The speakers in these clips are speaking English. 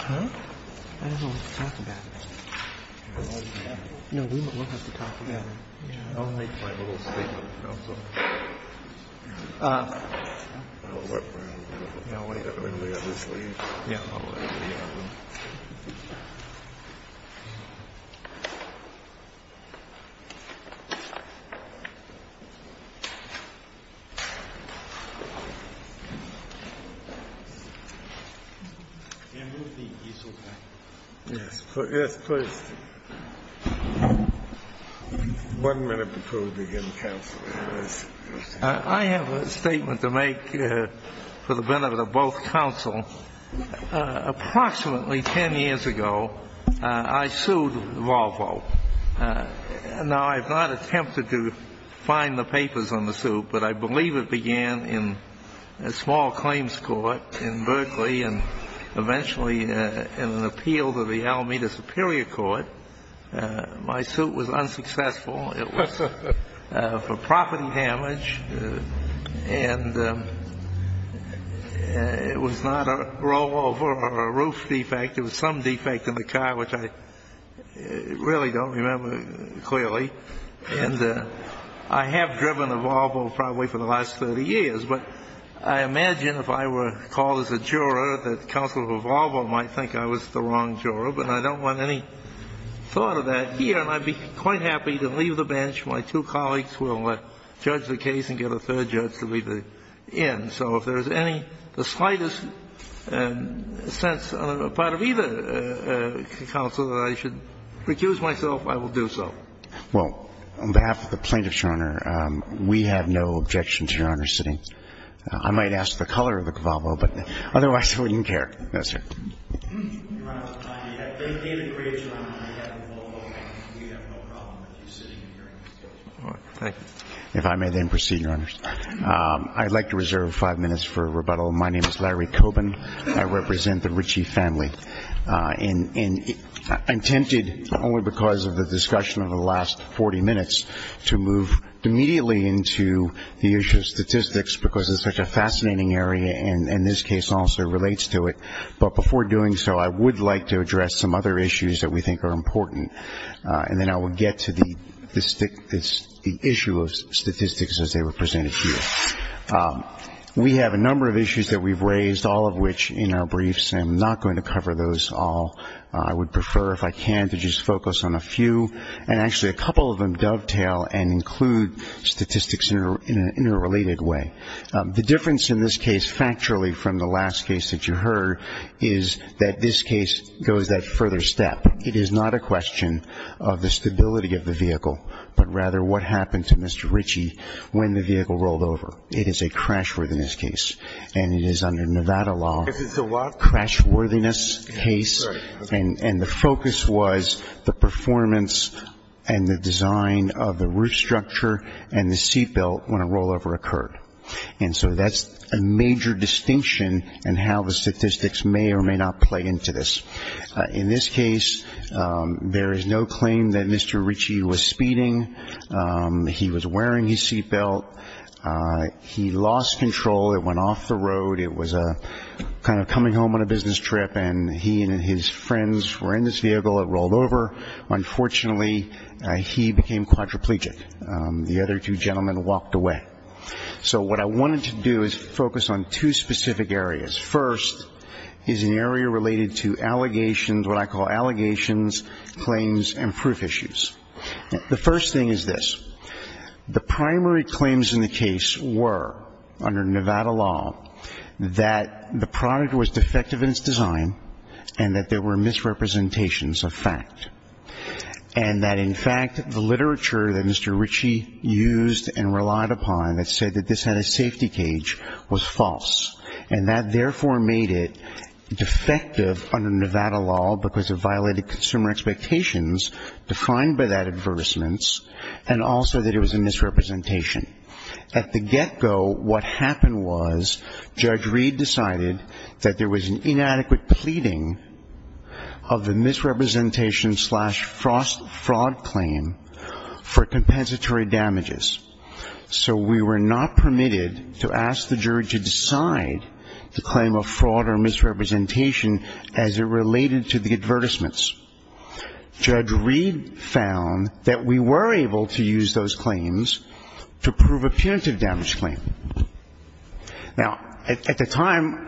Huh? I don't know what to talk about. No, we'll have to talk about it. I'll make my little statement also. I'll wait for him. Yeah, I'll wait. I'm going to go to sleep. Yeah, I'm going to go to sleep. Can you move the easel back? Yes, please. One minute before we begin counsel. I have a statement to make for the benefit of both counsel. Approximately 10 years ago, I sued Volvo. Now, I've not attempted to find the papers on the suit, but I believe it began in a small claims court in Berkeley and eventually in an appeal to the Alameda Superior Court. My suit was unsuccessful. It was for property damage, and it was not a rollover or a roof defect. It was some defect in the car, which I really don't remember clearly. And I have driven a Volvo probably for the last 30 years. But I imagine if I were called as a juror, that counsel of Volvo might think I was the wrong juror, but I don't want any thought of that here, and I'd be quite happy to leave the bench. My two colleagues will judge the case and get a third judge to leave the inn. So if there's any slightest sense on the part of either counsel that I should recuse myself, I will do so. Well, on behalf of the plaintiffs, Your Honor, we have no objection to Your Honor sitting. I might ask the color of the Volvo, but otherwise we don't care. Yes, sir. Your Honor, on behalf of David Graves, Your Honor, I have a Volvo, and we have no problem with you sitting here in this case. All right. Thank you. If I may then proceed, Your Honors. I'd like to reserve five minutes for rebuttal. My name is Larry Cobin. I represent the Ritchie family. And I'm tempted, only because of the discussion of the last 40 minutes, to move immediately into the issue of statistics because it's such a fascinating area, and this case also relates to it. But before doing so, I would like to address some other issues that we think are important, and then I will get to the issue of statistics as they were presented to you. We have a number of issues that we've raised, all of which in our briefs. I'm not going to cover those all. I would prefer, if I can, to just focus on a few, and actually a couple of them dovetail and include statistics in an interrelated way. The difference in this case, factually, from the last case that you heard, is that this case goes that further step. It is not a question of the stability of the vehicle, but rather what happened to Mr. Ritchie when the vehicle rolled over. It is a crash within this case, and it is under Nevada law. It is a crash within this case, and the focus was the performance and the design of the roof structure and the seat belt when a rollover occurred. And so that's a major distinction in how the statistics may or may not play into this. In this case, there is no claim that Mr. Ritchie was speeding. He was wearing his seat belt. He lost control. It went off the road. It was kind of coming home on a business trip, and he and his friends were in this vehicle. It rolled over. Unfortunately, he became quadriplegic. The other two gentlemen walked away. So what I wanted to do is focus on two specific areas. First is an area related to allegations, what I call allegations, claims, and proof issues. The first thing is this. The primary claims in the case were, under Nevada law, that the product was defective in its design and that there were misrepresentations of fact, and that, in fact, the literature that Mr. Ritchie used and relied upon that said that this had a safety cage was false, and that therefore made it defective under Nevada law because it violated consumer expectations defined by that advertisement and also that it was a misrepresentation. At the get-go, what happened was Judge Reed decided that there was an inadequate pleading of the misrepresentation slash fraud claim for compensatory damages. So we were not permitted to ask the jury to decide the claim of fraud or misrepresentation as it related to the advertisements. Judge Reed found that we were able to use those claims to prove a punitive damage claim. Now, at the time,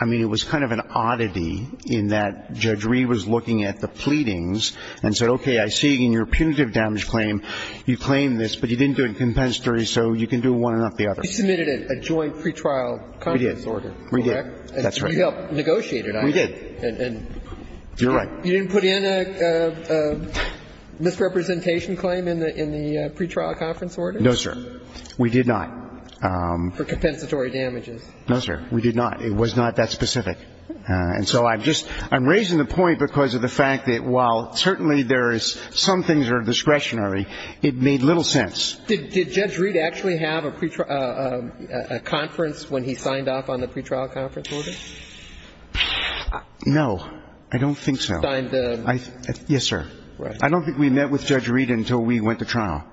I mean, it was kind of an oddity in that Judge Reed was looking at the pleadings and said, okay, I see in your punitive damage claim you claim this, but you didn't do it in compensatory, so you can do one and not the other. You submitted a joint pretrial conference order, correct? We did. That's right. And you helped negotiate it, I assume. We did. You're right. You didn't put in a misrepresentation claim in the pretrial conference order? No, sir. We did not. For compensatory damages. No, sir. We did not. It was not that specific. And so I'm just raising the point because of the fact that while certainly there is some things are discretionary, it made little sense. Did Judge Reed actually have a conference when he signed off on the pretrial conference order? No, I don't think so. Yes, sir. I don't think we met with Judge Reed until we went to trial.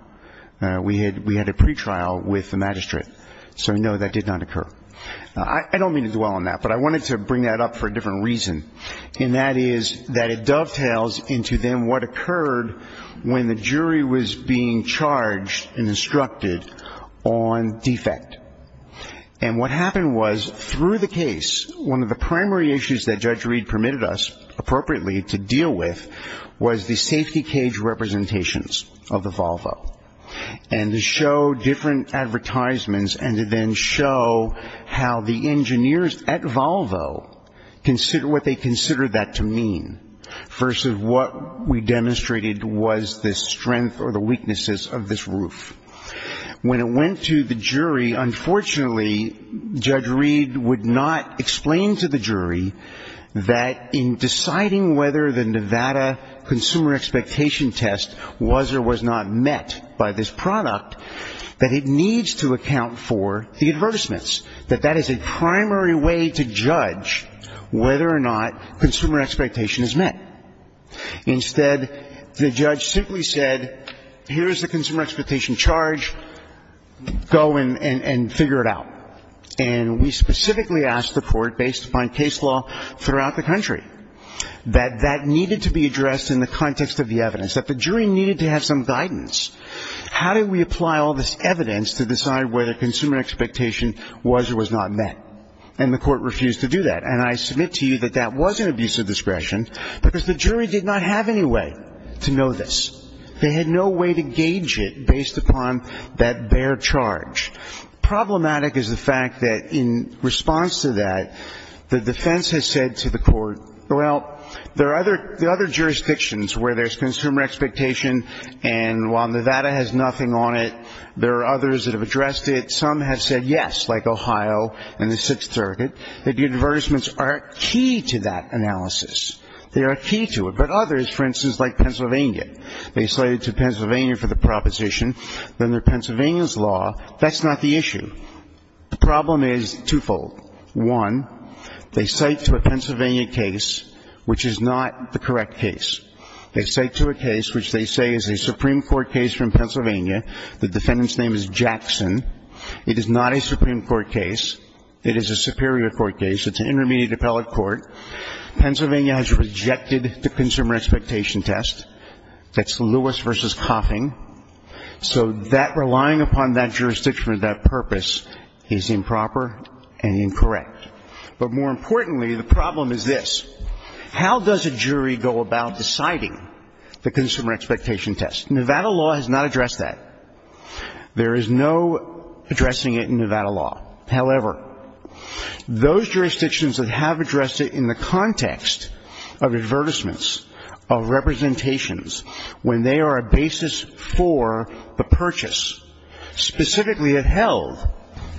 We had a pretrial with the magistrate. So, no, that did not occur. I don't mean to dwell on that, but I wanted to bring that up for a different reason, and that is that it dovetails into then what occurred when the jury was being charged and instructed on defect. And what happened was through the case, one of the primary issues that Judge Reed permitted us appropriately to deal with was the safety cage representations of the Volvo. And to show different advertisements and to then show how the engineers at Volvo considered what they considered that to mean versus what we demonstrated was the strength or the weaknesses of this roof. When it went to the jury, unfortunately, Judge Reed would not explain to the jury that in deciding whether the Nevada consumer expectation test was or was not met by this product, that it needs to account for the advertisements, that that is a primary way to judge whether or not consumer expectation is met. Instead, the judge simply said, here is the consumer expectation charge. Go and figure it out. And we specifically asked the court, based upon case law throughout the country, that that needed to be addressed in the context of the evidence, that the jury needed to have some guidance. How do we apply all this evidence to decide whether consumer expectation was or was not met? And the court refused to do that. And I submit to you that that was an abuse of discretion because the jury did not have any way to know this. They had no way to gauge it based upon that bare charge. Problematic is the fact that in response to that, the defense has said to the court, well, there are other jurisdictions where there is consumer expectation and while Nevada has nothing on it, there are others that have addressed it. Some have said yes, like Ohio and the Sixth Circuit. The advertisements are key to that analysis. They are key to it. But others, for instance, like Pennsylvania, they cited to Pennsylvania for the proposition that under Pennsylvania's law, that's not the issue. The problem is twofold. One, they cite to a Pennsylvania case which is not the correct case. They cite to a case which they say is a Supreme Court case from Pennsylvania. The defendant's name is Jackson. It is not a Supreme Court case. It is a Superior Court case. It's an intermediate appellate court. Pennsylvania has rejected the consumer expectation test. That's Lewis versus Coffin. So that relying upon that jurisdiction or that purpose is improper and incorrect. But more importantly, the problem is this. How does a jury go about deciding the consumer expectation test? Nevada law has not addressed that. There is no addressing it in Nevada law. However, those jurisdictions that have addressed it in the context of advertisements, of representations, when they are a basis for the purchase, specifically have held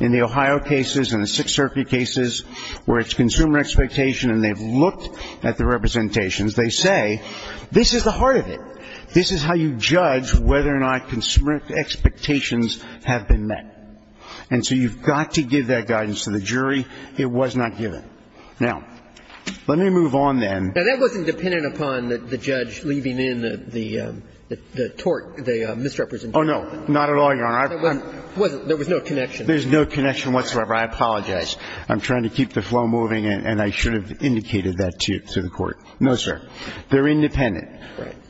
in the Ohio cases and the Sixth Circuit cases where it's consumer expectation and they've looked at the representations, they say this is the heart of it. This is how you judge whether or not consumer expectations have been met. And so you've got to give that guidance to the jury. It was not given. Now, let me move on then. Now, that wasn't dependent upon the judge leaving in the tort, the misrepresentation. Oh, no. Not at all, Your Honor. There was no connection. There's no connection whatsoever. I apologize. I'm trying to keep the flow moving and I should have indicated that to the Court. No, sir. They're independent.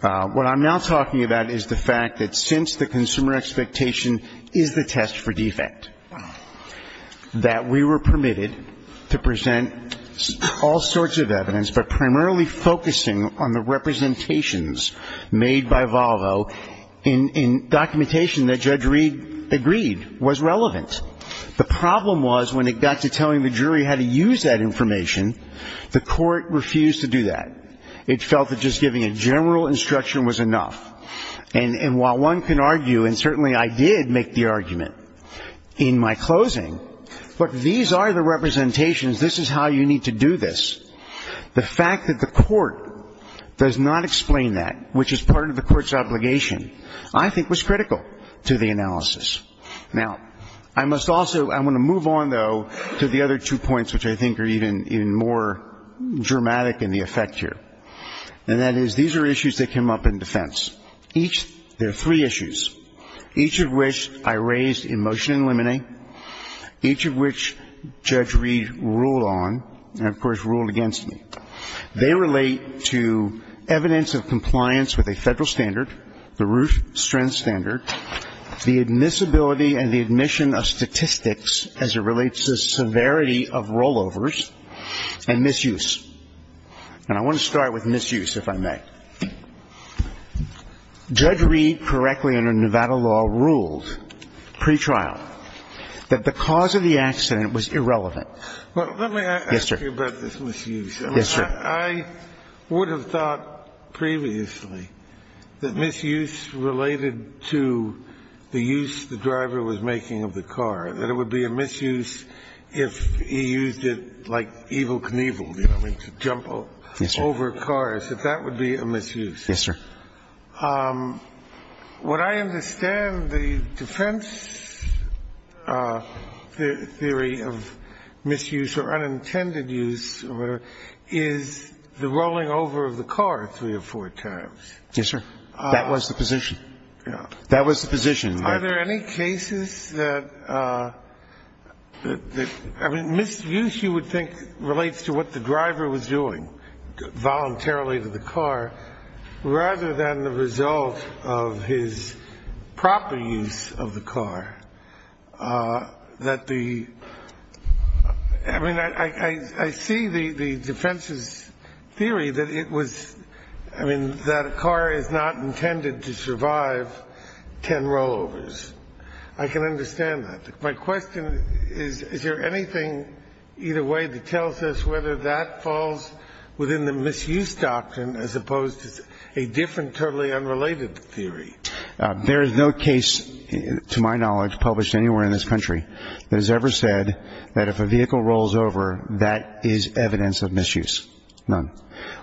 What I'm now talking about is the fact that since the consumer expectation is the test for defect, that we were permitted to present all sorts of evidence, but primarily focusing on the representations made by Volvo in documentation that Judge Reed agreed was relevant. The problem was when it got to telling the jury how to use that information, the Court refused to do that. It felt that just giving a general instruction was enough. And while one can argue, and certainly I did make the argument in my closing, but these are the representations. This is how you need to do this. The fact that the Court does not explain that, which is part of the Court's obligation, I think was critical to the analysis. Now, I must also, I want to move on, though, to the other two points, which I think are even more dramatic in the effect here. And that is these are issues that came up in defense. There are three issues, each of which I raised in motion in limine, each of which Judge Reed ruled on and, of course, ruled against me. They relate to evidence of compliance with a Federal standard, the Root Strength Standard, the admissibility and the admission of statistics as it relates to severity of rollovers, and misuse. And I want to start with misuse, if I may. Judge Reed, correctly under Nevada law, ruled pretrial that the cause of the accident was irrelevant. Let me ask you about this misuse. Yes, sir. I would have thought previously that misuse related to the use the driver was making of the car, that it would be a misuse if he used it like Evel Knievel, you know, to jump over cars, that that would be a misuse. Yes, sir. Would I understand the defense theory of misuse or unintended use is the rolling over of the car three or four times? Yes, sir. That was the position. That was the position. Are there any cases that, I mean, misuse, you would think, relates to what the driver was doing voluntarily to the car rather than the result of his proper use of the car? That the – I mean, I see the defense's theory that it was – I mean, that a car is not intended to survive ten rollovers. I can understand that. My question is, is there anything either way that tells us whether that falls within the misuse doctrine as opposed to a different, totally unrelated theory? There is no case, to my knowledge, published anywhere in this country that has ever said that if a vehicle rolls over, that is evidence of misuse. None.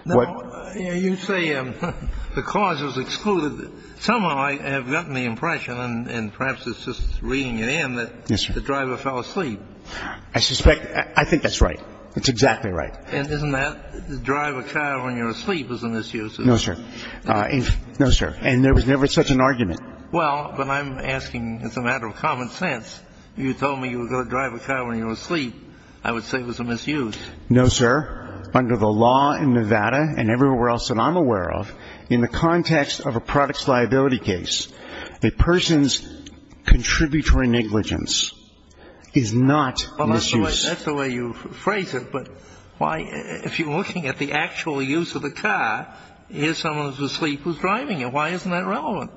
Now, you say the cause was excluded. Somehow I have gotten the impression, and perhaps it's just reading it in, that the driver fell asleep. Yes, sir. I suspect – I think that's right. It's exactly right. And isn't that drive a car when you're asleep is a misuse? No, sir. No, sir. And there was never such an argument. Well, but I'm asking as a matter of common sense. You told me you were going to drive a car when you were asleep. I would say it was a misuse. No, sir. Under the law in Nevada and everywhere else that I'm aware of, in the context of a products liability case, a person's contributory negligence is not misuse. Well, that's the way you phrase it. But why – if you're looking at the actual use of the car, here's someone who's asleep who's driving it. Why isn't that relevant?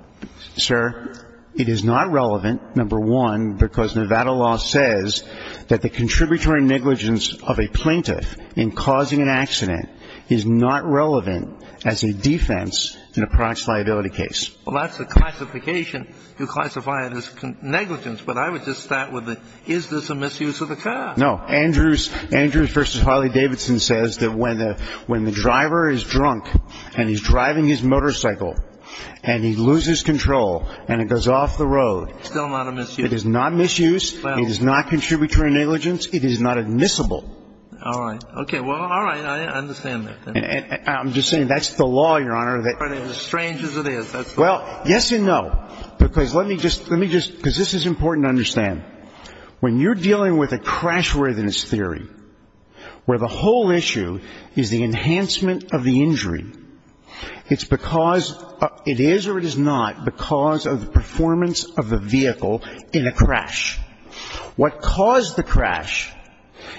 Sir, it is not relevant, number one, because Nevada law says that the contributory negligence of a plaintiff in causing an accident is not relevant as a defense in a products liability case. Well, that's the classification. You classify it as negligence. But I would just start with the is this a misuse of the car? No. Andrews v. Harley-Davidson says that when the driver is drunk and he's driving his motorcycle and he loses control and it goes off the road – Still not a misuse. It is not misuse. It is not contributory negligence. It is not admissible. All right. Okay. Well, all right. I understand that. I'm just saying that's the law, Your Honor. As strange as it is, that's the law. Well, yes and no. Because let me just – because this is important to understand. When you're dealing with a crash-worthiness theory where the whole issue is the enhancement of the injury, it's because – it is or it is not because of the performance of the vehicle in a crash. What caused the crash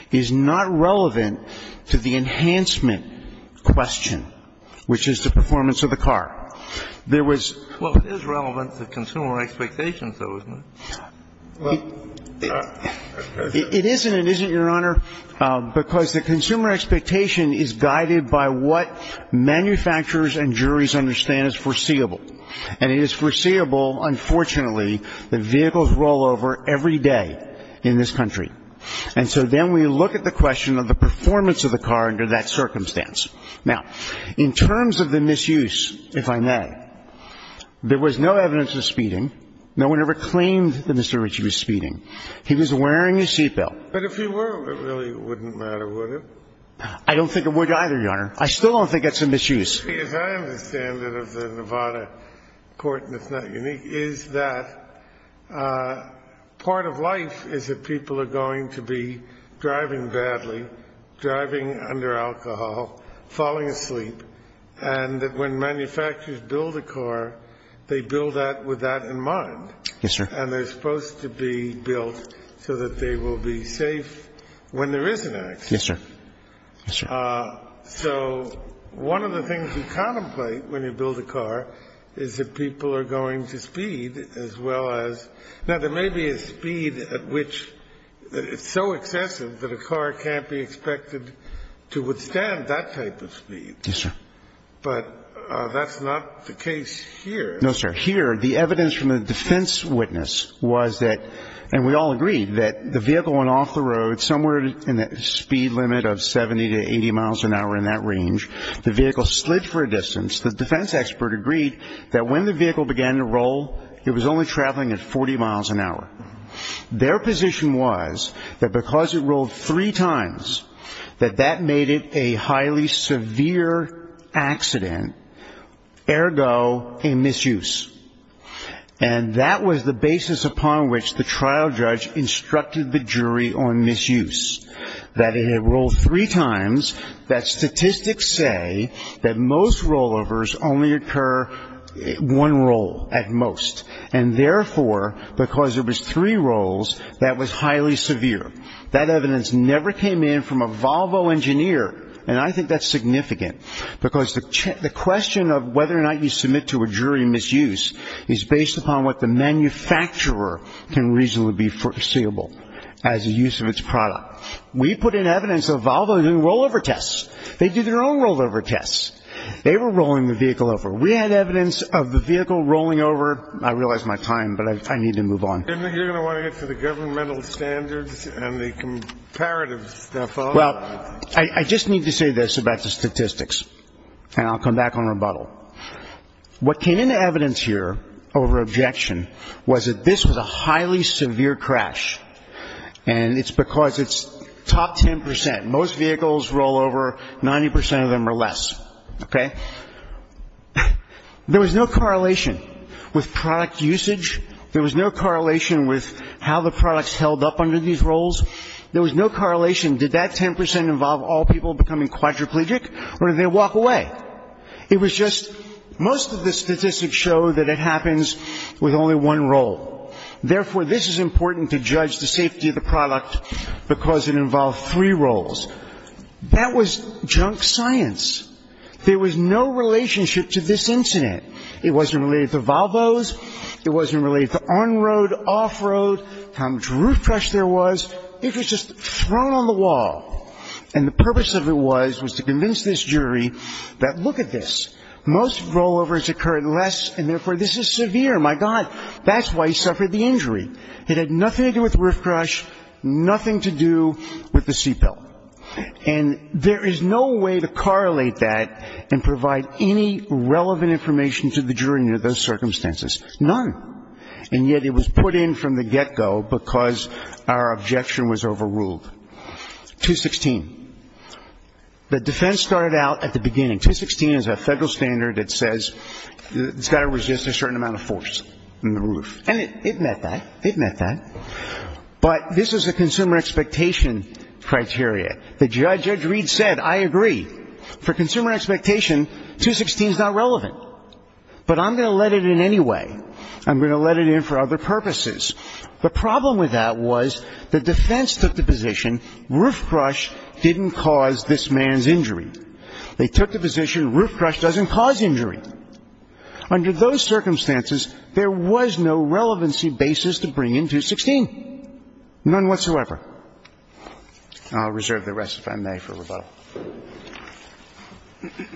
is not relevant to the enhancement question, which is the performance of the car. There was – Well, it is relevant to consumer expectations, though, isn't it? It is and it isn't, Your Honor, because the consumer expectation is guided by what manufacturers and juries understand as foreseeable. And it is foreseeable, unfortunately, that vehicles roll over every day in this country. And so then we look at the question of the performance of the car under that circumstance. Now, in terms of the misuse, if I may, there was no evidence of speeding. No one ever claimed that Mr. Ritchie was speeding. He was wearing his seatbelt. But if he were, it really wouldn't matter, would it? I don't think it would either, Your Honor. I still don't think that's a misuse. Because I understand that of the Nevada court, and it's not unique, is that part of life is that people are going to be driving badly, driving under alcohol, falling asleep, and that when manufacturers build a car, they build that with that in mind. Yes, sir. And they're supposed to be built so that they will be safe when there is an accident. Yes, sir. Yes, sir. So one of the things you contemplate when you build a car is that people are going to speed as well as ñ now, there may be a speed at which it's so excessive that a car can't be expected to withstand that type of speed. Yes, sir. But that's not the case here. No, sir. Here, the evidence from the defense witness was that, and we all agreed, that the vehicle was going off the road somewhere in the speed limit of 70 to 80 miles an hour in that range. The vehicle slid for a distance. The defense expert agreed that when the vehicle began to roll, it was only traveling at 40 miles an hour. Their position was that because it rolled three times, that that made it a highly severe accident, ergo a misuse. And that was the basis upon which the trial judge instructed the jury on misuse, that it had rolled three times, that statistics say that most rollovers only occur one roll at most, and therefore, because there was three rolls, that was highly severe. That evidence never came in from a Volvo engineer, and I think that's significant, because the question of whether or not you submit to a jury misuse is based upon what the manufacturer can reasonably be foreseeable as a use of its product. We put in evidence of Volvo doing rollover tests. They do their own rollover tests. They were rolling the vehicle over. We had evidence of the vehicle rolling over. I realize my time, but I need to move on. You're going to want to get to the governmental standards and the comparative stuff, aren't you? Well, I just need to say this about the statistics, and I'll come back on rebuttal. What came into evidence here over objection was that this was a highly severe crash, and it's because it's top ten percent. Most vehicles roll over. Ninety percent of them are less, okay? There was no correlation with product usage. There was no correlation with how the products held up under these rolls. There was no correlation. Did that ten percent involve all people becoming quadriplegic, or did they walk away? It was just most of the statistics show that it happens with only one roll. Therefore, this is important to judge the safety of the product because it involved three rolls. That was junk science. There was no relationship to this incident. It wasn't related to Volvos. It wasn't related to on-road, off-road, how much roof trash there was. It was just thrown on the wall, and the purpose of it was to convince this jury that look at this. Most rollovers occurred less, and therefore, this is severe. My God, that's why he suffered the injury. It had nothing to do with roof crush, nothing to do with the seatbelt. And there is no way to correlate that and provide any relevant information to the jury under those circumstances. None. And yet it was put in from the get-go because our objection was overruled. 216. The defense started out at the beginning. 216 is a federal standard that says it's got to resist a certain amount of force in the roof. And it met that. It met that. But this is a consumer expectation criteria. The judge, Judge Reed, said, I agree. For consumer expectation, 216 is not relevant. But I'm going to let it in anyway. I'm going to let it in for other purposes. The problem with that was the defense took the position roof crush didn't cause this man's injury. They took the position roof crush doesn't cause injury. Under those circumstances, there was no relevancy basis to bring in 216. None whatsoever. And I'll reserve the rest if I may for rebuttal. Excuse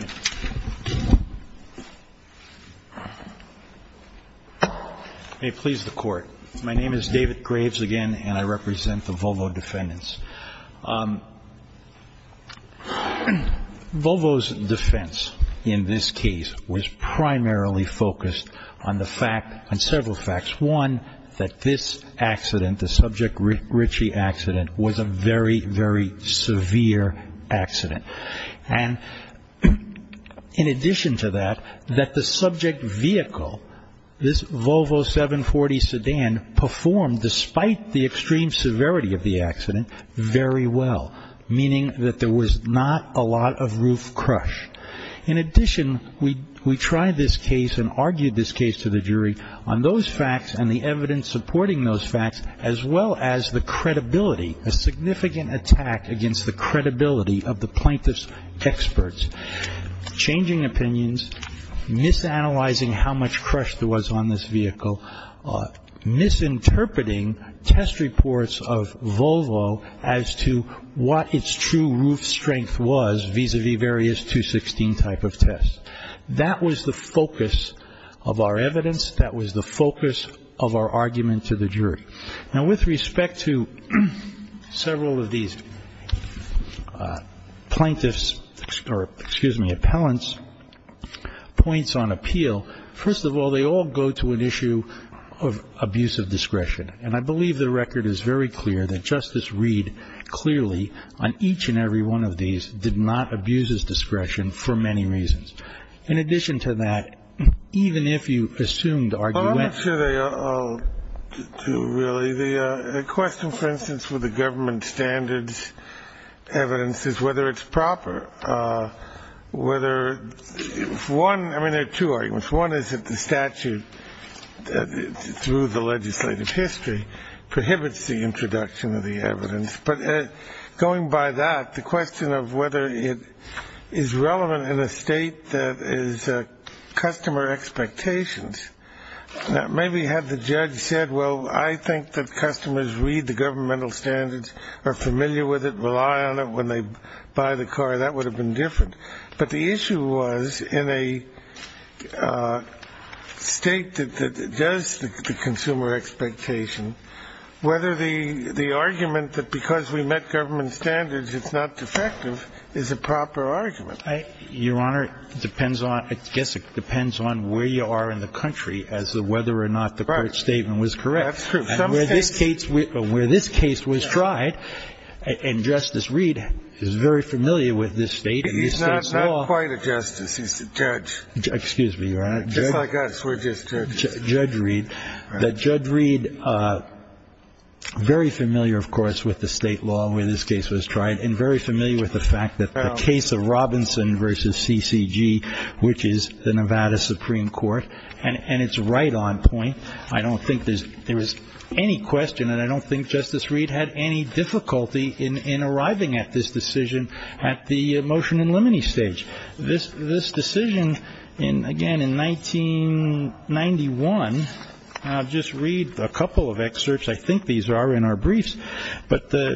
me. May it please the Court. My name is David Graves again, and I represent the Volvo defendants. Volvo's defense in this case was primarily focused on the fact, on several facts. One, that this accident, the Subject Ritchie accident, was a very, very severe accident. And in addition to that, that the subject vehicle, this Volvo 740 sedan, performed, despite the extreme severity of the accident, very well. Meaning that there was not a lot of roof crush. In addition, we tried this case and argued this case to the jury on those facts and the evidence supporting those facts, as well as the credibility, a significant attack against the credibility of the plaintiff's experts. Changing opinions, misanalyzing how much crush there was on this vehicle, misinterpreting test reports of Volvo as to what its true roof strength was vis-a-vis various 216 type of tests. That was the focus of our evidence. That was the focus of our argument to the jury. Now, with respect to several of these plaintiffs, or excuse me, appellants, points on appeal, first of all, they all go to an issue of abuse of discretion. And I believe the record is very clear that Justice Reed clearly, on each and every one of these, did not abuse his discretion for many reasons. In addition to that, even if you assumed arguments. Well, I'm not sure they all do, really. The question, for instance, with the government standards evidence is whether it's proper. Whether one, I mean, there are two arguments. One is that the statute, through the legislative history, prohibits the introduction of the evidence. But going by that, the question of whether it is relevant in a state that is customer expectations, maybe had the judge said, well, I think that customers read the governmental standards, are familiar with it, rely on it when they buy the car, that would have been different. But the issue was in a state that does the consumer expectation, whether the argument that because we met government standards it's not defective is a proper argument. Your Honor, it depends on, I guess it depends on where you are in the country as to whether or not the court's statement was correct. That's true. And where this case was tried, and Justice Reed is very familiar with this State, he's not quite a justice, he's a judge. Excuse me, Your Honor. Just like us, we're just judges. Judge Reed. Judge Reed, very familiar, of course, with the state law where this case was tried, and very familiar with the fact that the case of Robinson versus CCG, which is the Nevada Supreme Court, and it's right on point, I don't think there was any question, and I don't think Justice Reed had any difficulty in arriving at this decision at the motion and limine stage. This decision, again, in 1991, I'll just read a couple of excerpts, I think these are in our briefs, but I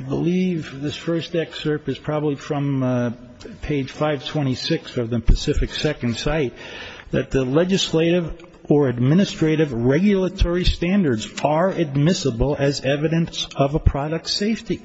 believe this first excerpt is probably from page 526 of the Pacific Second Cite, that the legislative or administrative regulatory standards are admissible as evidence of a product's safety.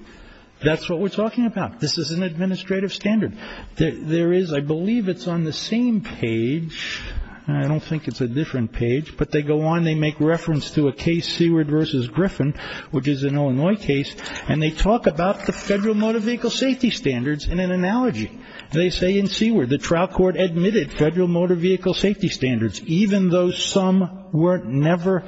That's what we're talking about. This is an administrative standard. There is, I believe it's on the same page, I don't think it's a different page, but they go on, they make reference to a case, Seaward versus Griffin, which is an Illinois case, and they talk about the federal motor vehicle safety standards in an analogy. They say in Seaward, the trial court admitted federal motor vehicle safety standards, even though some were newer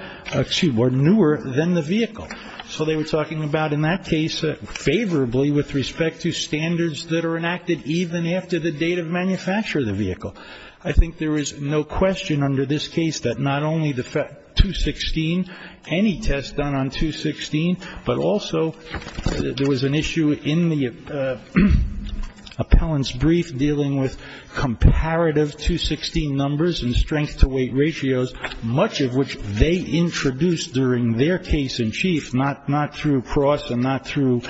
than the vehicle. So they were talking about, in that case, favorably with respect to standards that are enacted, even after the date of manufacture of the vehicle. I think there is no question under this case that not only the 216, any test done on 216, but also there was an issue in the appellant's brief dealing with comparative 216 numbers and strength to weight ratios, much of which they introduced during their case in chief, not through Pross and not through,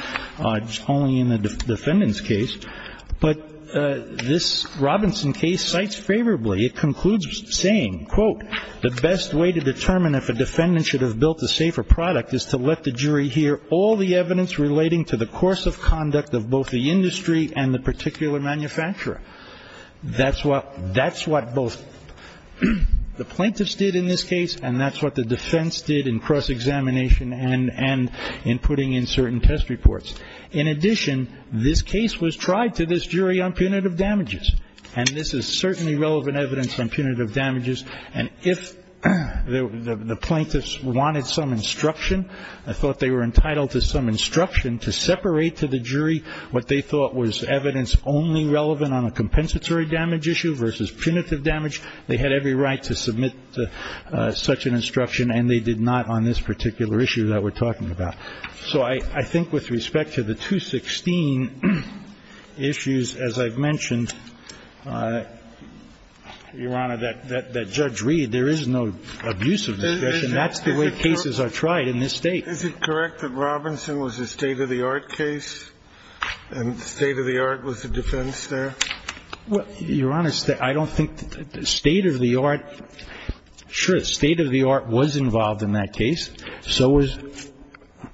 only in the defendant's case. But this Robinson case cites favorably. It concludes saying, quote, The best way to determine if a defendant should have built a safer product is to let the jury hear all the evidence relating to the course of conduct of both the industry and the particular manufacturer. That's what both the plaintiffs did in this case, and that's what the defense did in cross-examination and in putting in certain test reports. In addition, this case was tried to this jury on punitive damages, and this is certainly relevant evidence on punitive damages. And if the plaintiffs wanted some instruction, I thought they were entitled to some instruction to separate to the jury what they thought was evidence only relevant on a compensatory damage issue versus punitive damage. They had every right to submit such an instruction, and they did not on this particular issue that we're talking about. So I think with respect to the 216 issues, as I've mentioned, Your Honor, that Judge Reed, there is no abuse of discretion. That's the way cases are tried in this State. Is it correct that Robinson was a state-of-the-art case and state-of-the-art was the defense there? Well, Your Honor, I don't think state-of-the-art – sure, state-of-the-art was involved in that case. So was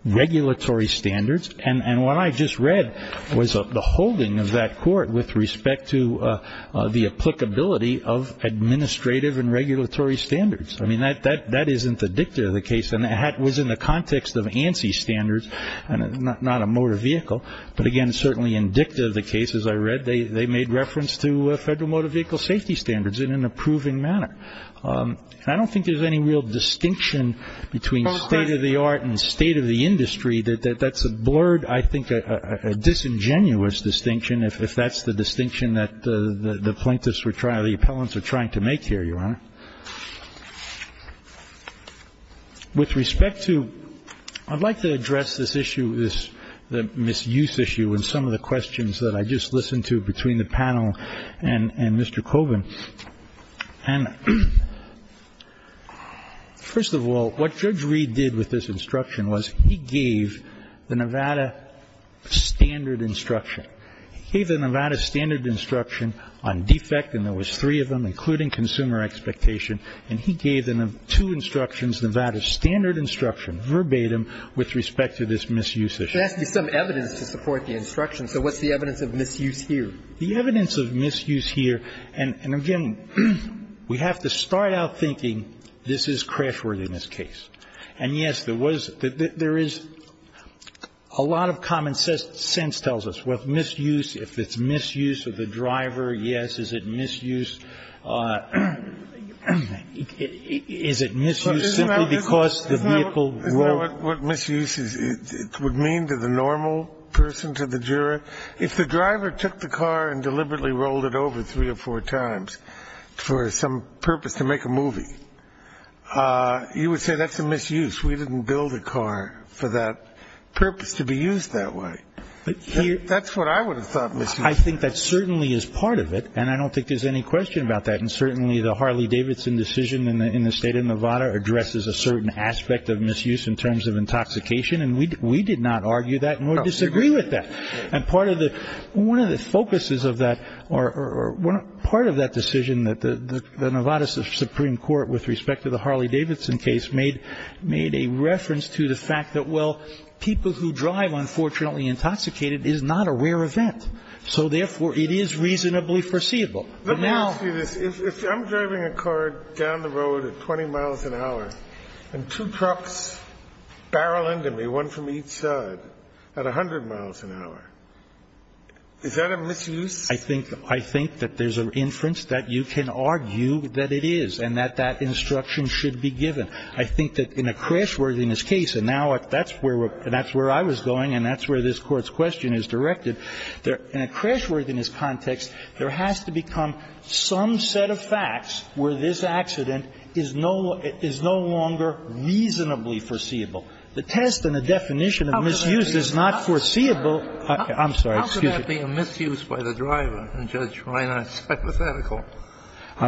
regulatory standards. And what I just read was the holding of that court with respect to the applicability of administrative and regulatory standards. I mean, that isn't the dicta of the case, and that was in the context of ANSI standards, not a motor vehicle. But, again, certainly in dicta of the case, as I read, they made reference to federal motor vehicle safety standards in an approving manner. And I don't think there's any real distinction between state-of-the-art and state-of-the-industry. That's a blurred, I think, a disingenuous distinction, if that's the distinction that the plaintiffs were trying – the appellants were trying to make here, Your Honor. With respect to – I'd like to address this issue, this misuse issue, and some of the questions that I just listened to between the panel and Mr. Colvin. And, first of all, what Judge Reed did with this instruction was he gave the Nevada standard instruction. He gave the Nevada standard instruction on defect, and there was three of them, including consumer expectation. And he gave two instructions, Nevada standard instruction, verbatim, with respect to this misuse issue. It has to be some evidence to support the instruction. So what's the evidence of misuse here? The evidence of misuse here – and, again, we have to start out thinking this is crash-worthiness case. And, yes, there was – there is – a lot of common sense tells us what misuse – if it's misuse of the driver, yes. Is it misuse – is it misuse simply because the vehicle – Isn't that what misuse is? It would mean to the normal person, to the juror. If the driver took the car and deliberately rolled it over three or four times for some purpose to make a movie, you would say that's a misuse. We didn't build a car for that purpose to be used that way. That's what I would have thought misuse was. I think that certainly is part of it, and I don't think there's any question about that. And certainly the Harley-Davidson decision in the state of Nevada addresses a certain aspect of misuse in terms of intoxication, and we did not argue that nor disagree with that. And part of the – one of the focuses of that – or part of that decision that the Nevada Supreme Court, with respect to the Harley-Davidson case, made a reference to the fact that, well, people who drive unfortunately intoxicated is not a rare event. So, therefore, it is reasonably foreseeable. But now – Let me ask you this. If I'm driving a car down the road at 20 miles an hour, and two trucks barrel into me, one from each side, at 100 miles an hour, is that a misuse? I think that there's an inference that you can argue that it is and that that instruction should be given. I think that in a crashworthiness case, and now that's where I was going and that's where this Court's question is directed, in a crashworthiness context, there has to become some set of facts where this accident is no longer reasonably foreseeable. The test and the definition of misuse is not foreseeable. I'm sorry. Excuse me. How could that be a misuse by the driver in Judge Reinhardt's hypothetical?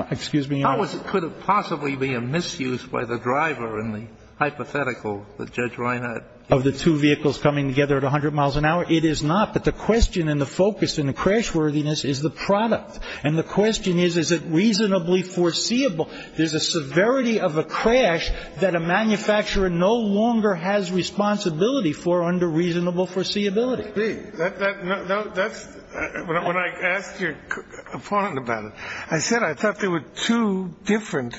Excuse me. How could it possibly be a misuse by the driver in the hypothetical that Judge Reinhardt – Of the two vehicles coming together at 100 miles an hour? It is not. But the question and the focus in a crashworthiness is the product. And the question is, is it reasonably foreseeable? There's a severity of a crash that a manufacturer no longer has responsibility for under reasonable foreseeability. When I asked your opponent about it, I said I thought there were two different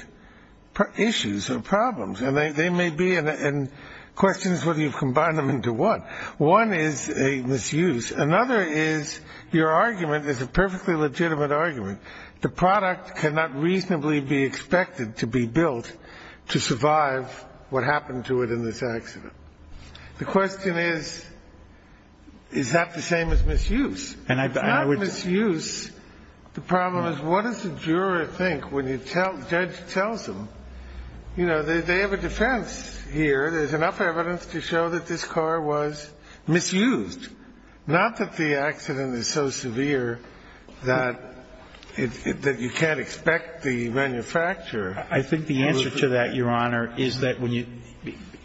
issues or problems. And they may be questions whether you've combined them into one. One is a misuse. Another is your argument is a perfectly legitimate argument. The product cannot reasonably be expected to be built to survive what happened to it in this accident. The question is, is that the same as misuse? And if it's not misuse, the problem is what does the juror think when the judge tells him, you know, they have a defense here. There's enough evidence to show that this car was misused. Not that the accident is so severe that you can't expect the manufacturer. I think the answer to that, Your Honor, is that when you –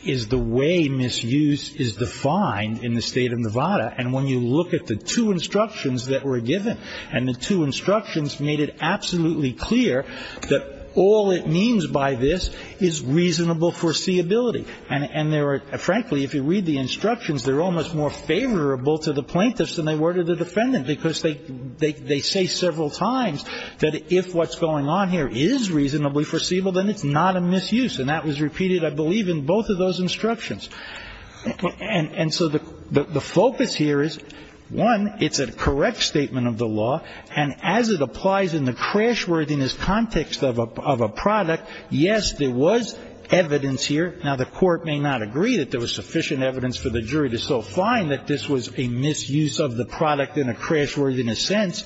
is the way misuse is defined in the State of Nevada. And when you look at the two instructions that were given, and the two instructions made it absolutely clear that all it means by this is reasonable foreseeability. And frankly, if you read the instructions, they're almost more favorable to the plaintiffs than they were to the defendant, because they say several times that if what's going on here is reasonably foreseeable, then it's not a misuse. And that was repeated, I believe, in both of those instructions. And so the focus here is, one, it's a correct statement of the law. And as it applies in the crashworthiness context of a product, yes, there was evidence here. Now, the court may not agree that there was sufficient evidence for the jury to so find that this was a misuse of the product in a crashworthiness sense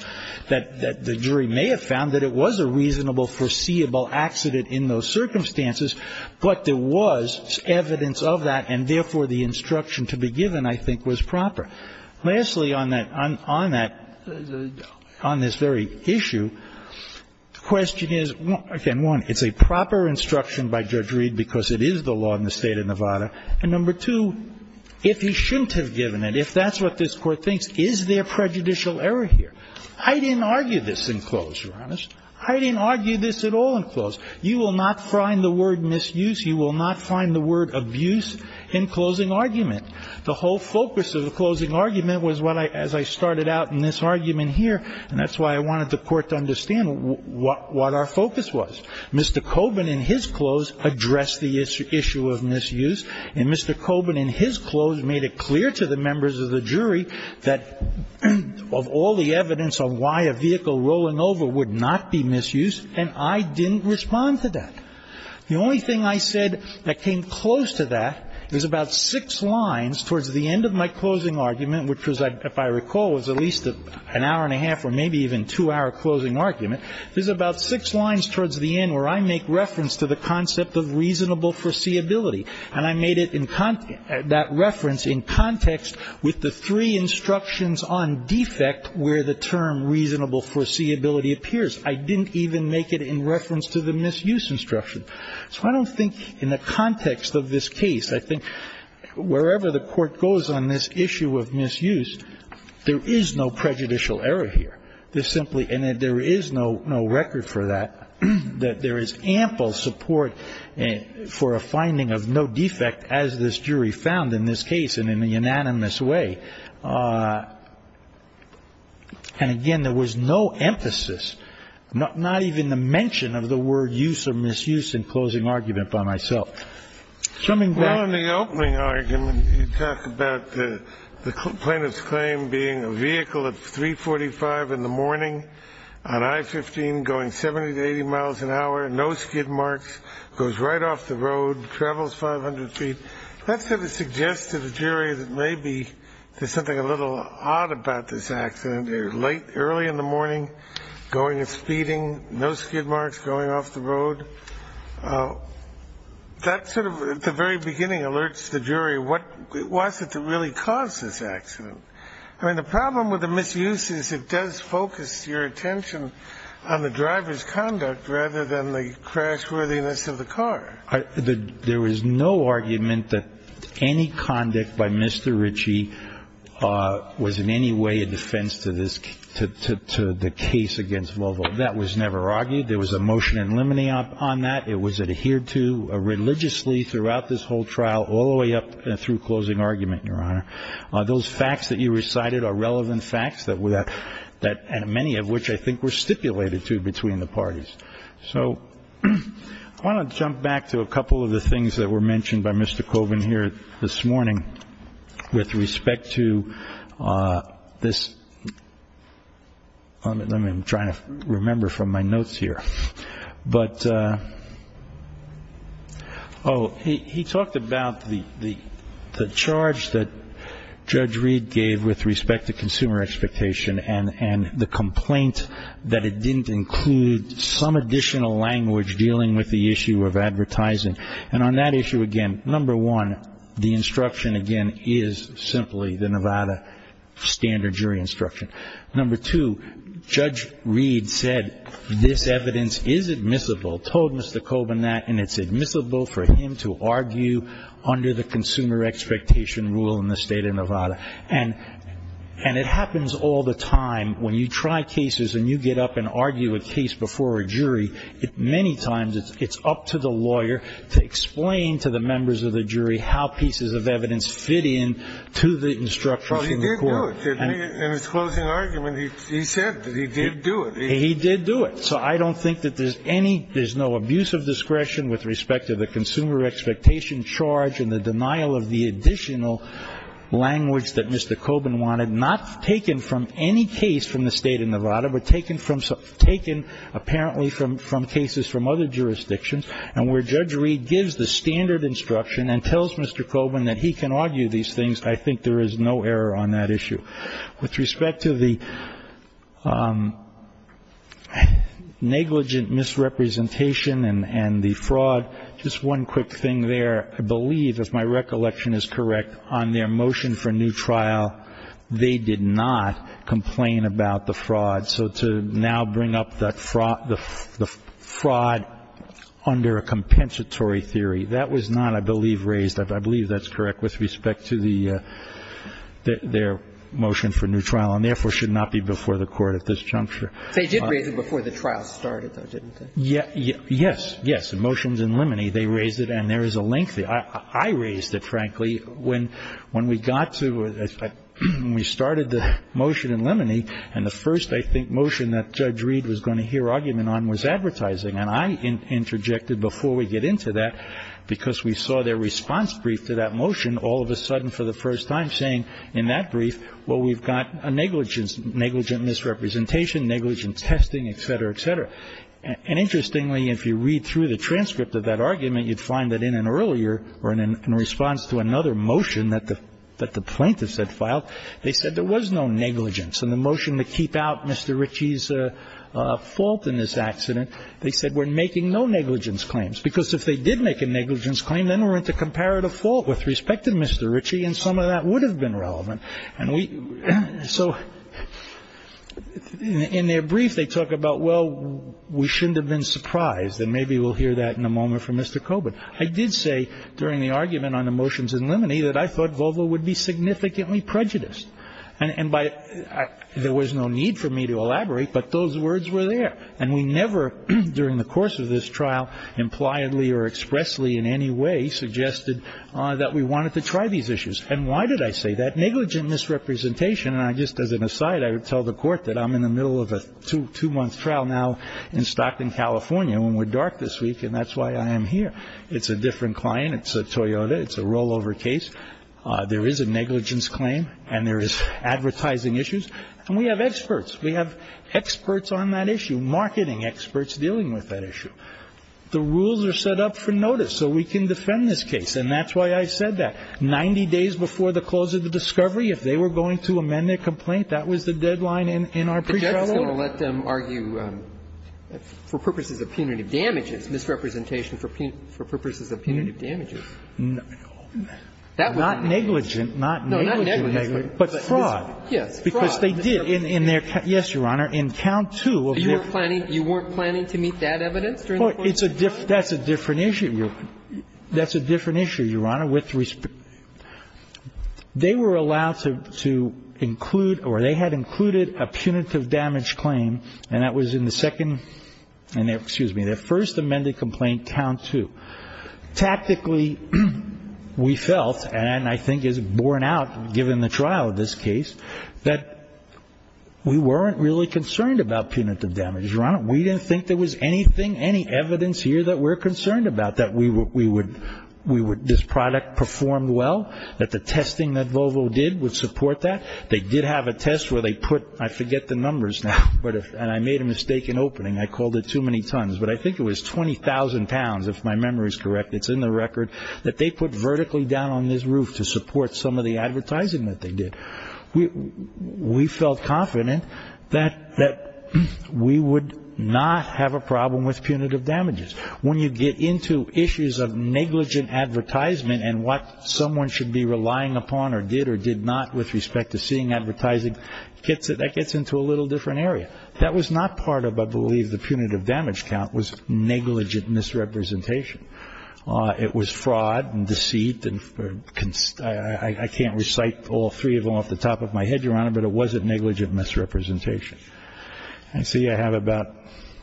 that the jury may have found that it was a reasonable foreseeable accident in those circumstances. But there was evidence of that, and therefore, the instruction to be given, I think, was proper. Lastly, on that, on that, on this very issue, the question is, again, one, it's a proper instruction by Judge Reed because it is the law in the State of Nevada. And number two, if he shouldn't have given it, if that's what this Court thinks, is there prejudicial error here? I didn't argue this in close, Your Honor. I didn't argue this at all in close. You will not find the word misuse. You will not find the word abuse in closing argument. The whole focus of the closing argument was what I as I started out in this argument here, and that's why I wanted the Court to understand what our focus was. Mr. Coburn in his close addressed the issue of misuse, and Mr. Coburn in his close made it clear to the members of the jury that of all the evidence of why a vehicle rolling over would not be misused, and I didn't respond to that. The only thing I said that came close to that is about six lines towards the end of my closing argument, which was, if I recall, was at least an hour and a half or maybe even two-hour closing argument. There's about six lines towards the end where I make reference to the concept of reasonable foreseeability, and I made it in that reference in context with the three instructions on defect where the term reasonable foreseeability appears. I didn't even make it in reference to the misuse instruction. So I don't think in the context of this case, I think wherever the Court goes on this issue of misuse, there is no prejudicial error here. There's simply no record for that, that there is ample support for a finding of no defect as this jury found in this case and in a unanimous way. And, again, there was no emphasis, not even the mention of the word use or misuse in closing argument by myself. Coming back to the opening argument, you talk about the plaintiff's claim being a vehicle at 345 in the morning on I-15 going 70 to 80 miles an hour, no skid marks, goes right off the road, travels 500 feet. That sort of suggests to the jury that maybe there's something a little odd about this accident. They're late, early in the morning, going and speeding, no skid marks, going off the road. That sort of, at the very beginning, alerts the jury what was it that really caused this accident. I mean, the problem with the misuse is it does focus your attention on the driver's conduct rather than the crash-worthiness of the car. There was no argument that any conduct by Mr. Ritchie was in any way a defense to this, to the case against Volvo. That was never argued. There was a motion in limine on that. It was adhered to religiously throughout this whole trial all the way up through closing argument, Your Honor. Those facts that you recited are relevant facts, many of which I think were stipulated to between the parties. So I want to jump back to a couple of the things that were mentioned by Mr. Kogan here this morning with respect to this. I'm trying to remember from my notes here. But, oh, he talked about the charge that Judge Reed gave with respect to consumer expectation and the complaint that it didn't include some additional language dealing with the issue of advertising. And on that issue, again, number one, the instruction, again, is simply the Nevada standard jury instruction. Number two, Judge Reed said this evidence is admissible, told Mr. Kogan that, and it's admissible for him to argue under the consumer expectation rule in the state of Nevada. And it happens all the time. When you try cases and you get up and argue a case before a jury, many times it's up to the lawyer to explain to the members of the jury how pieces of evidence fit in to the instructions in the court. Oh, he did do it. In his closing argument, he said that he did do it. He did do it. So I don't think that there's any, there's no abuse of discretion with respect to the consumer expectation charge and the denial of the additional language that Mr. Kogan wanted, not taken from any case from the state of Nevada, but taken apparently from cases from other jurisdictions. And where Judge Reed gives the standard instruction and tells Mr. Kogan that he can argue these things, I think there is no error on that issue. With respect to the negligent misrepresentation and the fraud, just one quick thing there. I believe, if my recollection is correct, on their motion for new trial, they did not complain about the fraud. So to now bring up the fraud under a compensatory theory, that was not, I believe, raised. I believe that's correct with respect to their motion for new trial and therefore should not be before the court at this juncture. They did raise it before the trial started, though, didn't they? Yes. Yes. The motions in limine, they raised it and there is a link there. I raised it, frankly, when we got to, when we started the motion in limine, and the first, I think, motion that Judge Reed was going to hear argument on was advertising. And I interjected before we get into that, because we saw their response brief to that motion all of a sudden for the first time saying in that brief, well, we've got a negligent misrepresentation, negligent testing, et cetera, et cetera. And interestingly, if you read through the transcript of that argument, you'd find that in an earlier, or in response to another motion that the plaintiffs had filed, they said there was no negligence. In the motion to keep out Mr. Ritchie's fault in this accident, they said we're making no negligence claims. Because if they did make a negligence claim, then we're at the comparative fault with respect to Mr. Ritchie, and some of that would have been relevant. So in their brief, they talk about, well, we shouldn't have been surprised. And maybe we'll hear that in a moment from Mr. Coburn. I did say during the argument on the motions in limine that I thought Volvo would be significantly prejudiced. And there was no need for me to elaborate, but those words were there. And we never, during the course of this trial, impliedly or expressly in any way suggested that we wanted to try these issues. And why did I say that? Negligent misrepresentation, and just as an aside, I would tell the court that I'm in the middle of a two-month trial now in Stockton, California, and we're dark this week, and that's why I am here. It's a different client. It's a Toyota. It's a rollover case. There is a negligence claim, and there is advertising issues. And we have experts. We have experts on that issue, marketing experts dealing with that issue. The rules are set up for notice so we can defend this case, and that's why I said that. And if we were to have a misrepresentation, if we were going to amend the discovery, if they were going to amend the complaint, that was the deadline in our pre-trial order. And so we're going to let them argue, for purposes of punitive damages, misrepresentation for purposes of punitive damages. No. That would be negligent. Not negligent. No, not negligent. But fraud. Fraud. Because they did in their can – yes, Your Honor. They were allowed to include – or they had included a punitive damage claim, and that was in the second – excuse me, their first amended complaint, Town 2. Tactically, we felt, and I think is borne out given the trial of this case, that we weren't really concerned about punitive damages, Your Honor. We didn't think there was anything, any evidence here that we're concerned about, that we would – this product performed well, that the testing that Volvo did would support that. They did have a test where they put – I forget the numbers now, and I made a mistake in opening. I called it too many tons. But I think it was 20,000 pounds, if my memory is correct. It's in the record. That they put vertically down on this roof to support some of the advertising that they did. We felt confident that we would not have a problem with punitive damages. When you get into issues of negligent advertisement and what someone should be relying upon or did or did not with respect to seeing advertising, that gets into a little different area. That was not part of, I believe, the punitive damage count was negligent misrepresentation. It was fraud and deceit and – I can't recite all three of them off the top of my head, Your Honor, but it wasn't negligent misrepresentation. I see I have about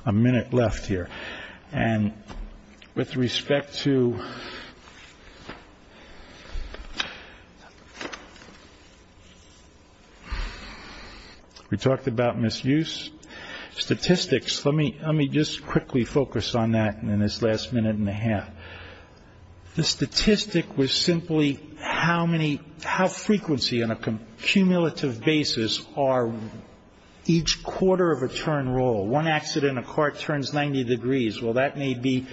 a minute left here. And with respect to – we talked about misuse. Statistics, let me just quickly focus on that in this last minute and a half. The statistic was simply how frequency on a cumulative basis are each quarter of a turn roll. One accident, a car turns 90 degrees. Well, that may be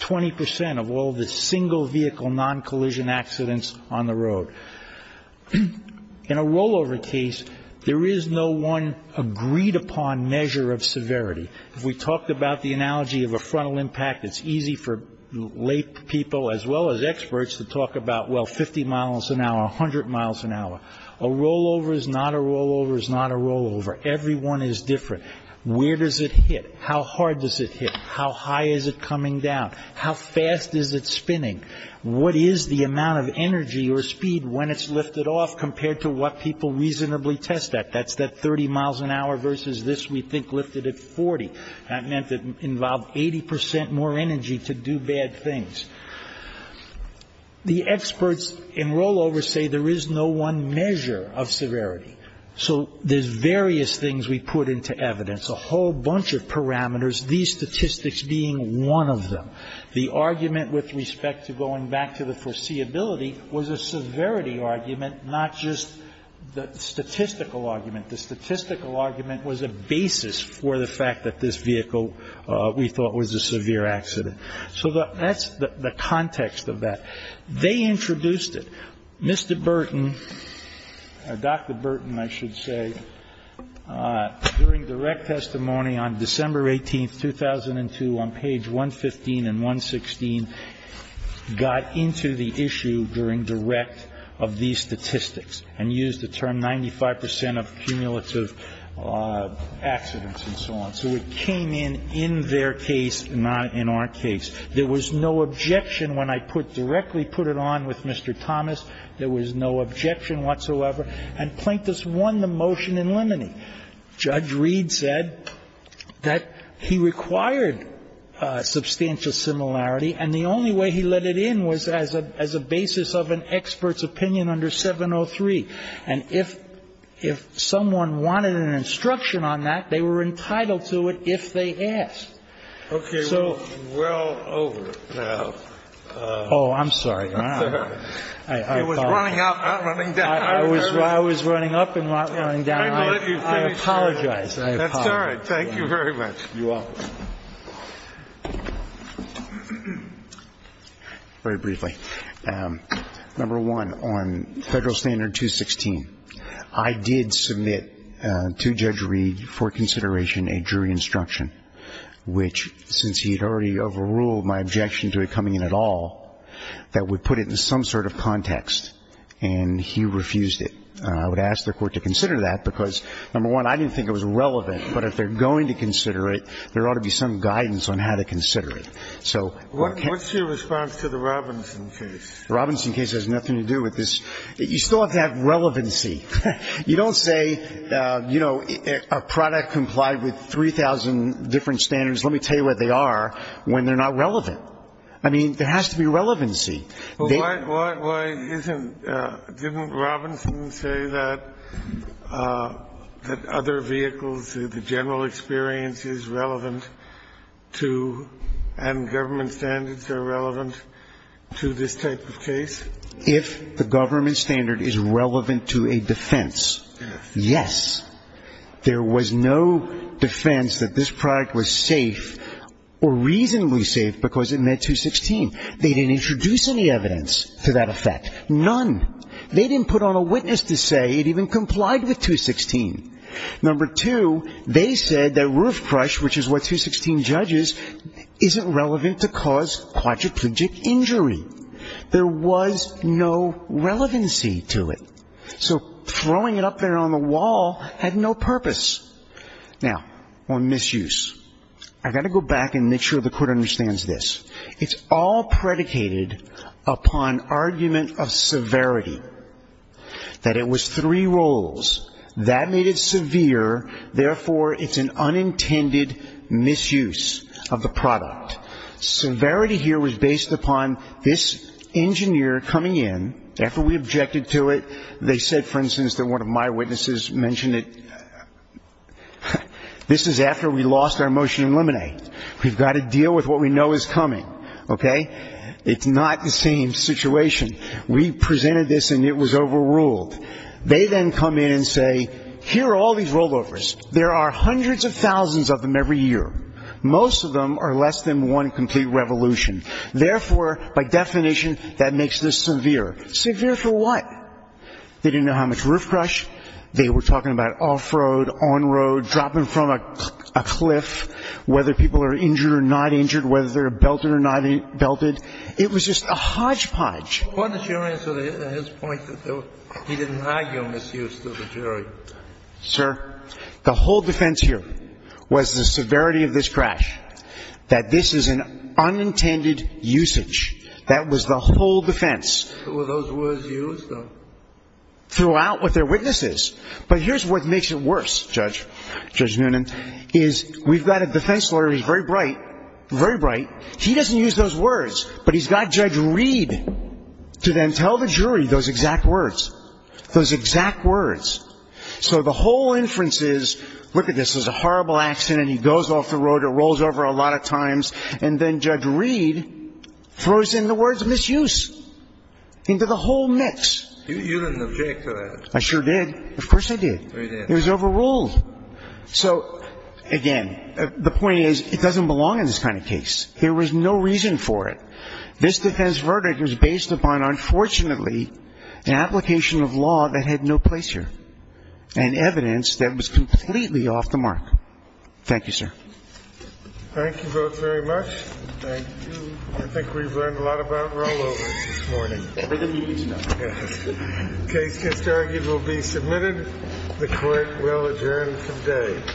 20 percent of all the single vehicle non-collision accidents on the road. In a rollover case, there is no one agreed upon measure of severity. If we talked about the analogy of a frontal impact, it's easy for late people as well as experts to talk about, well, 50 miles an hour, 100 miles an hour. A rollover is not a rollover is not a rollover. Every one is different. Where does it hit? How hard does it hit? How high is it coming down? How fast is it spinning? What is the amount of energy or speed when it's lifted off compared to what people reasonably test at? That's that 30 miles an hour versus this we think lifted at 40. That meant it involved 80 percent more energy to do bad things. The experts in rollovers say there is no one measure of severity. So there's various things we put into evidence, a whole bunch of parameters, these statistics being one of them. The argument with respect to going back to the foreseeability was a severity argument, not just the statistical argument. The statistical argument was a basis for the fact that this vehicle we thought was a severe accident. So that's the context of that. They introduced it. Mr. Burton or Dr. Burton, I should say, during direct testimony on December 18, 2002, on page 115 and 116, got into the issue during direct of these statistics and used the term 95 percent of cumulative accidents and so on. So it came in in their case, not in our case. There was no objection when I put directly, put it on with Mr. Thomas. There was no objection whatsoever. And Plaintiffs won the motion in limine. Now, if you look at Judge Reed's testimony, Judge Reed said that he required substantial similarity, and the only way he let it in was as a basis of an expert's opinion under 703. And if someone wanted an instruction on that, they were entitled to it if they asked. Okay. We're well over. Oh, I'm sorry. It was running up, not running down. I was running up and not running down. I apologize. That's all right. Thank you very much. You're welcome. Very briefly. Number one, on Federal Standard 216, I did submit to Judge Reed for consideration a jury instruction, which, since he had already overruled my objection to it coming in at all, that would put it in some sort of context. And he refused it. I would ask the Court to consider that, because, number one, I didn't think it was relevant. But if they're going to consider it, there ought to be some guidance on how to consider it. So I can't ---- What's your response to the Robinson case? The Robinson case has nothing to do with this. You still have to have relevancy. You don't say, you know, a product complied with 3,000 different standards. Let me tell you what they are when they're not relevant. I mean, there has to be relevancy. Well, why isn't ---- didn't Robinson say that other vehicles, the general experience is relevant to and government standards are relevant to this type of case? If the government standard is relevant to a defense, yes. There was no defense that this product was safe or reasonably safe because it met 216. They didn't introduce any evidence to that effect. None. They didn't put on a witness to say it even complied with 216. Number two, they said that roof crush, which is what 216 judges, isn't relevant to cause quadriplegic injury. There was no relevancy to it. So throwing it up there on the wall had no purpose. Now, on misuse, I've got to go back and make sure the court understands this. It's all predicated upon argument of severity, that it was three rolls. That made it severe. Therefore, it's an unintended misuse of the product. Severity here was based upon this engineer coming in. After we objected to it, they said, for instance, that one of my witnesses mentioned it. This is after we lost our motion to eliminate. We've got to deal with what we know is coming. Okay? It's not the same situation. We presented this and it was overruled. They then come in and say, here are all these rollovers. There are hundreds of thousands of them every year. Most of them are less than one complete revolution. Therefore, by definition, that makes this severe. Severe for what? They didn't know how much roof crush. They were talking about off-road, on-road, dropping from a cliff, whether people are injured or not injured, whether they're belted or not belted. It was just a hodgepodge. What is your answer to his point that he didn't argue on misuse to the jury? Sir, the whole defense here was the severity of this crash, that this is an unintended usage. That was the whole defense. Were those words used? Throughout with their witnesses. But here's what makes it worse, Judge Noonan, is we've got a defense lawyer who's very bright, very bright. He doesn't use those words, but he's got Judge Reed to then tell the jury those exact words. Those exact words. So the whole inference is, look at this, this is a horrible accident. He goes off the road. It rolls over a lot of times. And then Judge Reed throws in the words misuse into the whole mix. You didn't object to that. I sure did. Of course I did. It was overruled. So, again, the point is it doesn't belong in this kind of case. There was no reason for it. This defense verdict was based upon, unfortunately, an application of law that had no place here. And evidence that was completely off the mark. Thank you, sir. Thank you both very much. Thank you. I think we've learned a lot about rollovers this morning. We're going to need to know. The case just argued will be submitted. The Court will adjourn for the day. Thank you. The Court of Dispatch will stand to defer. Thank you.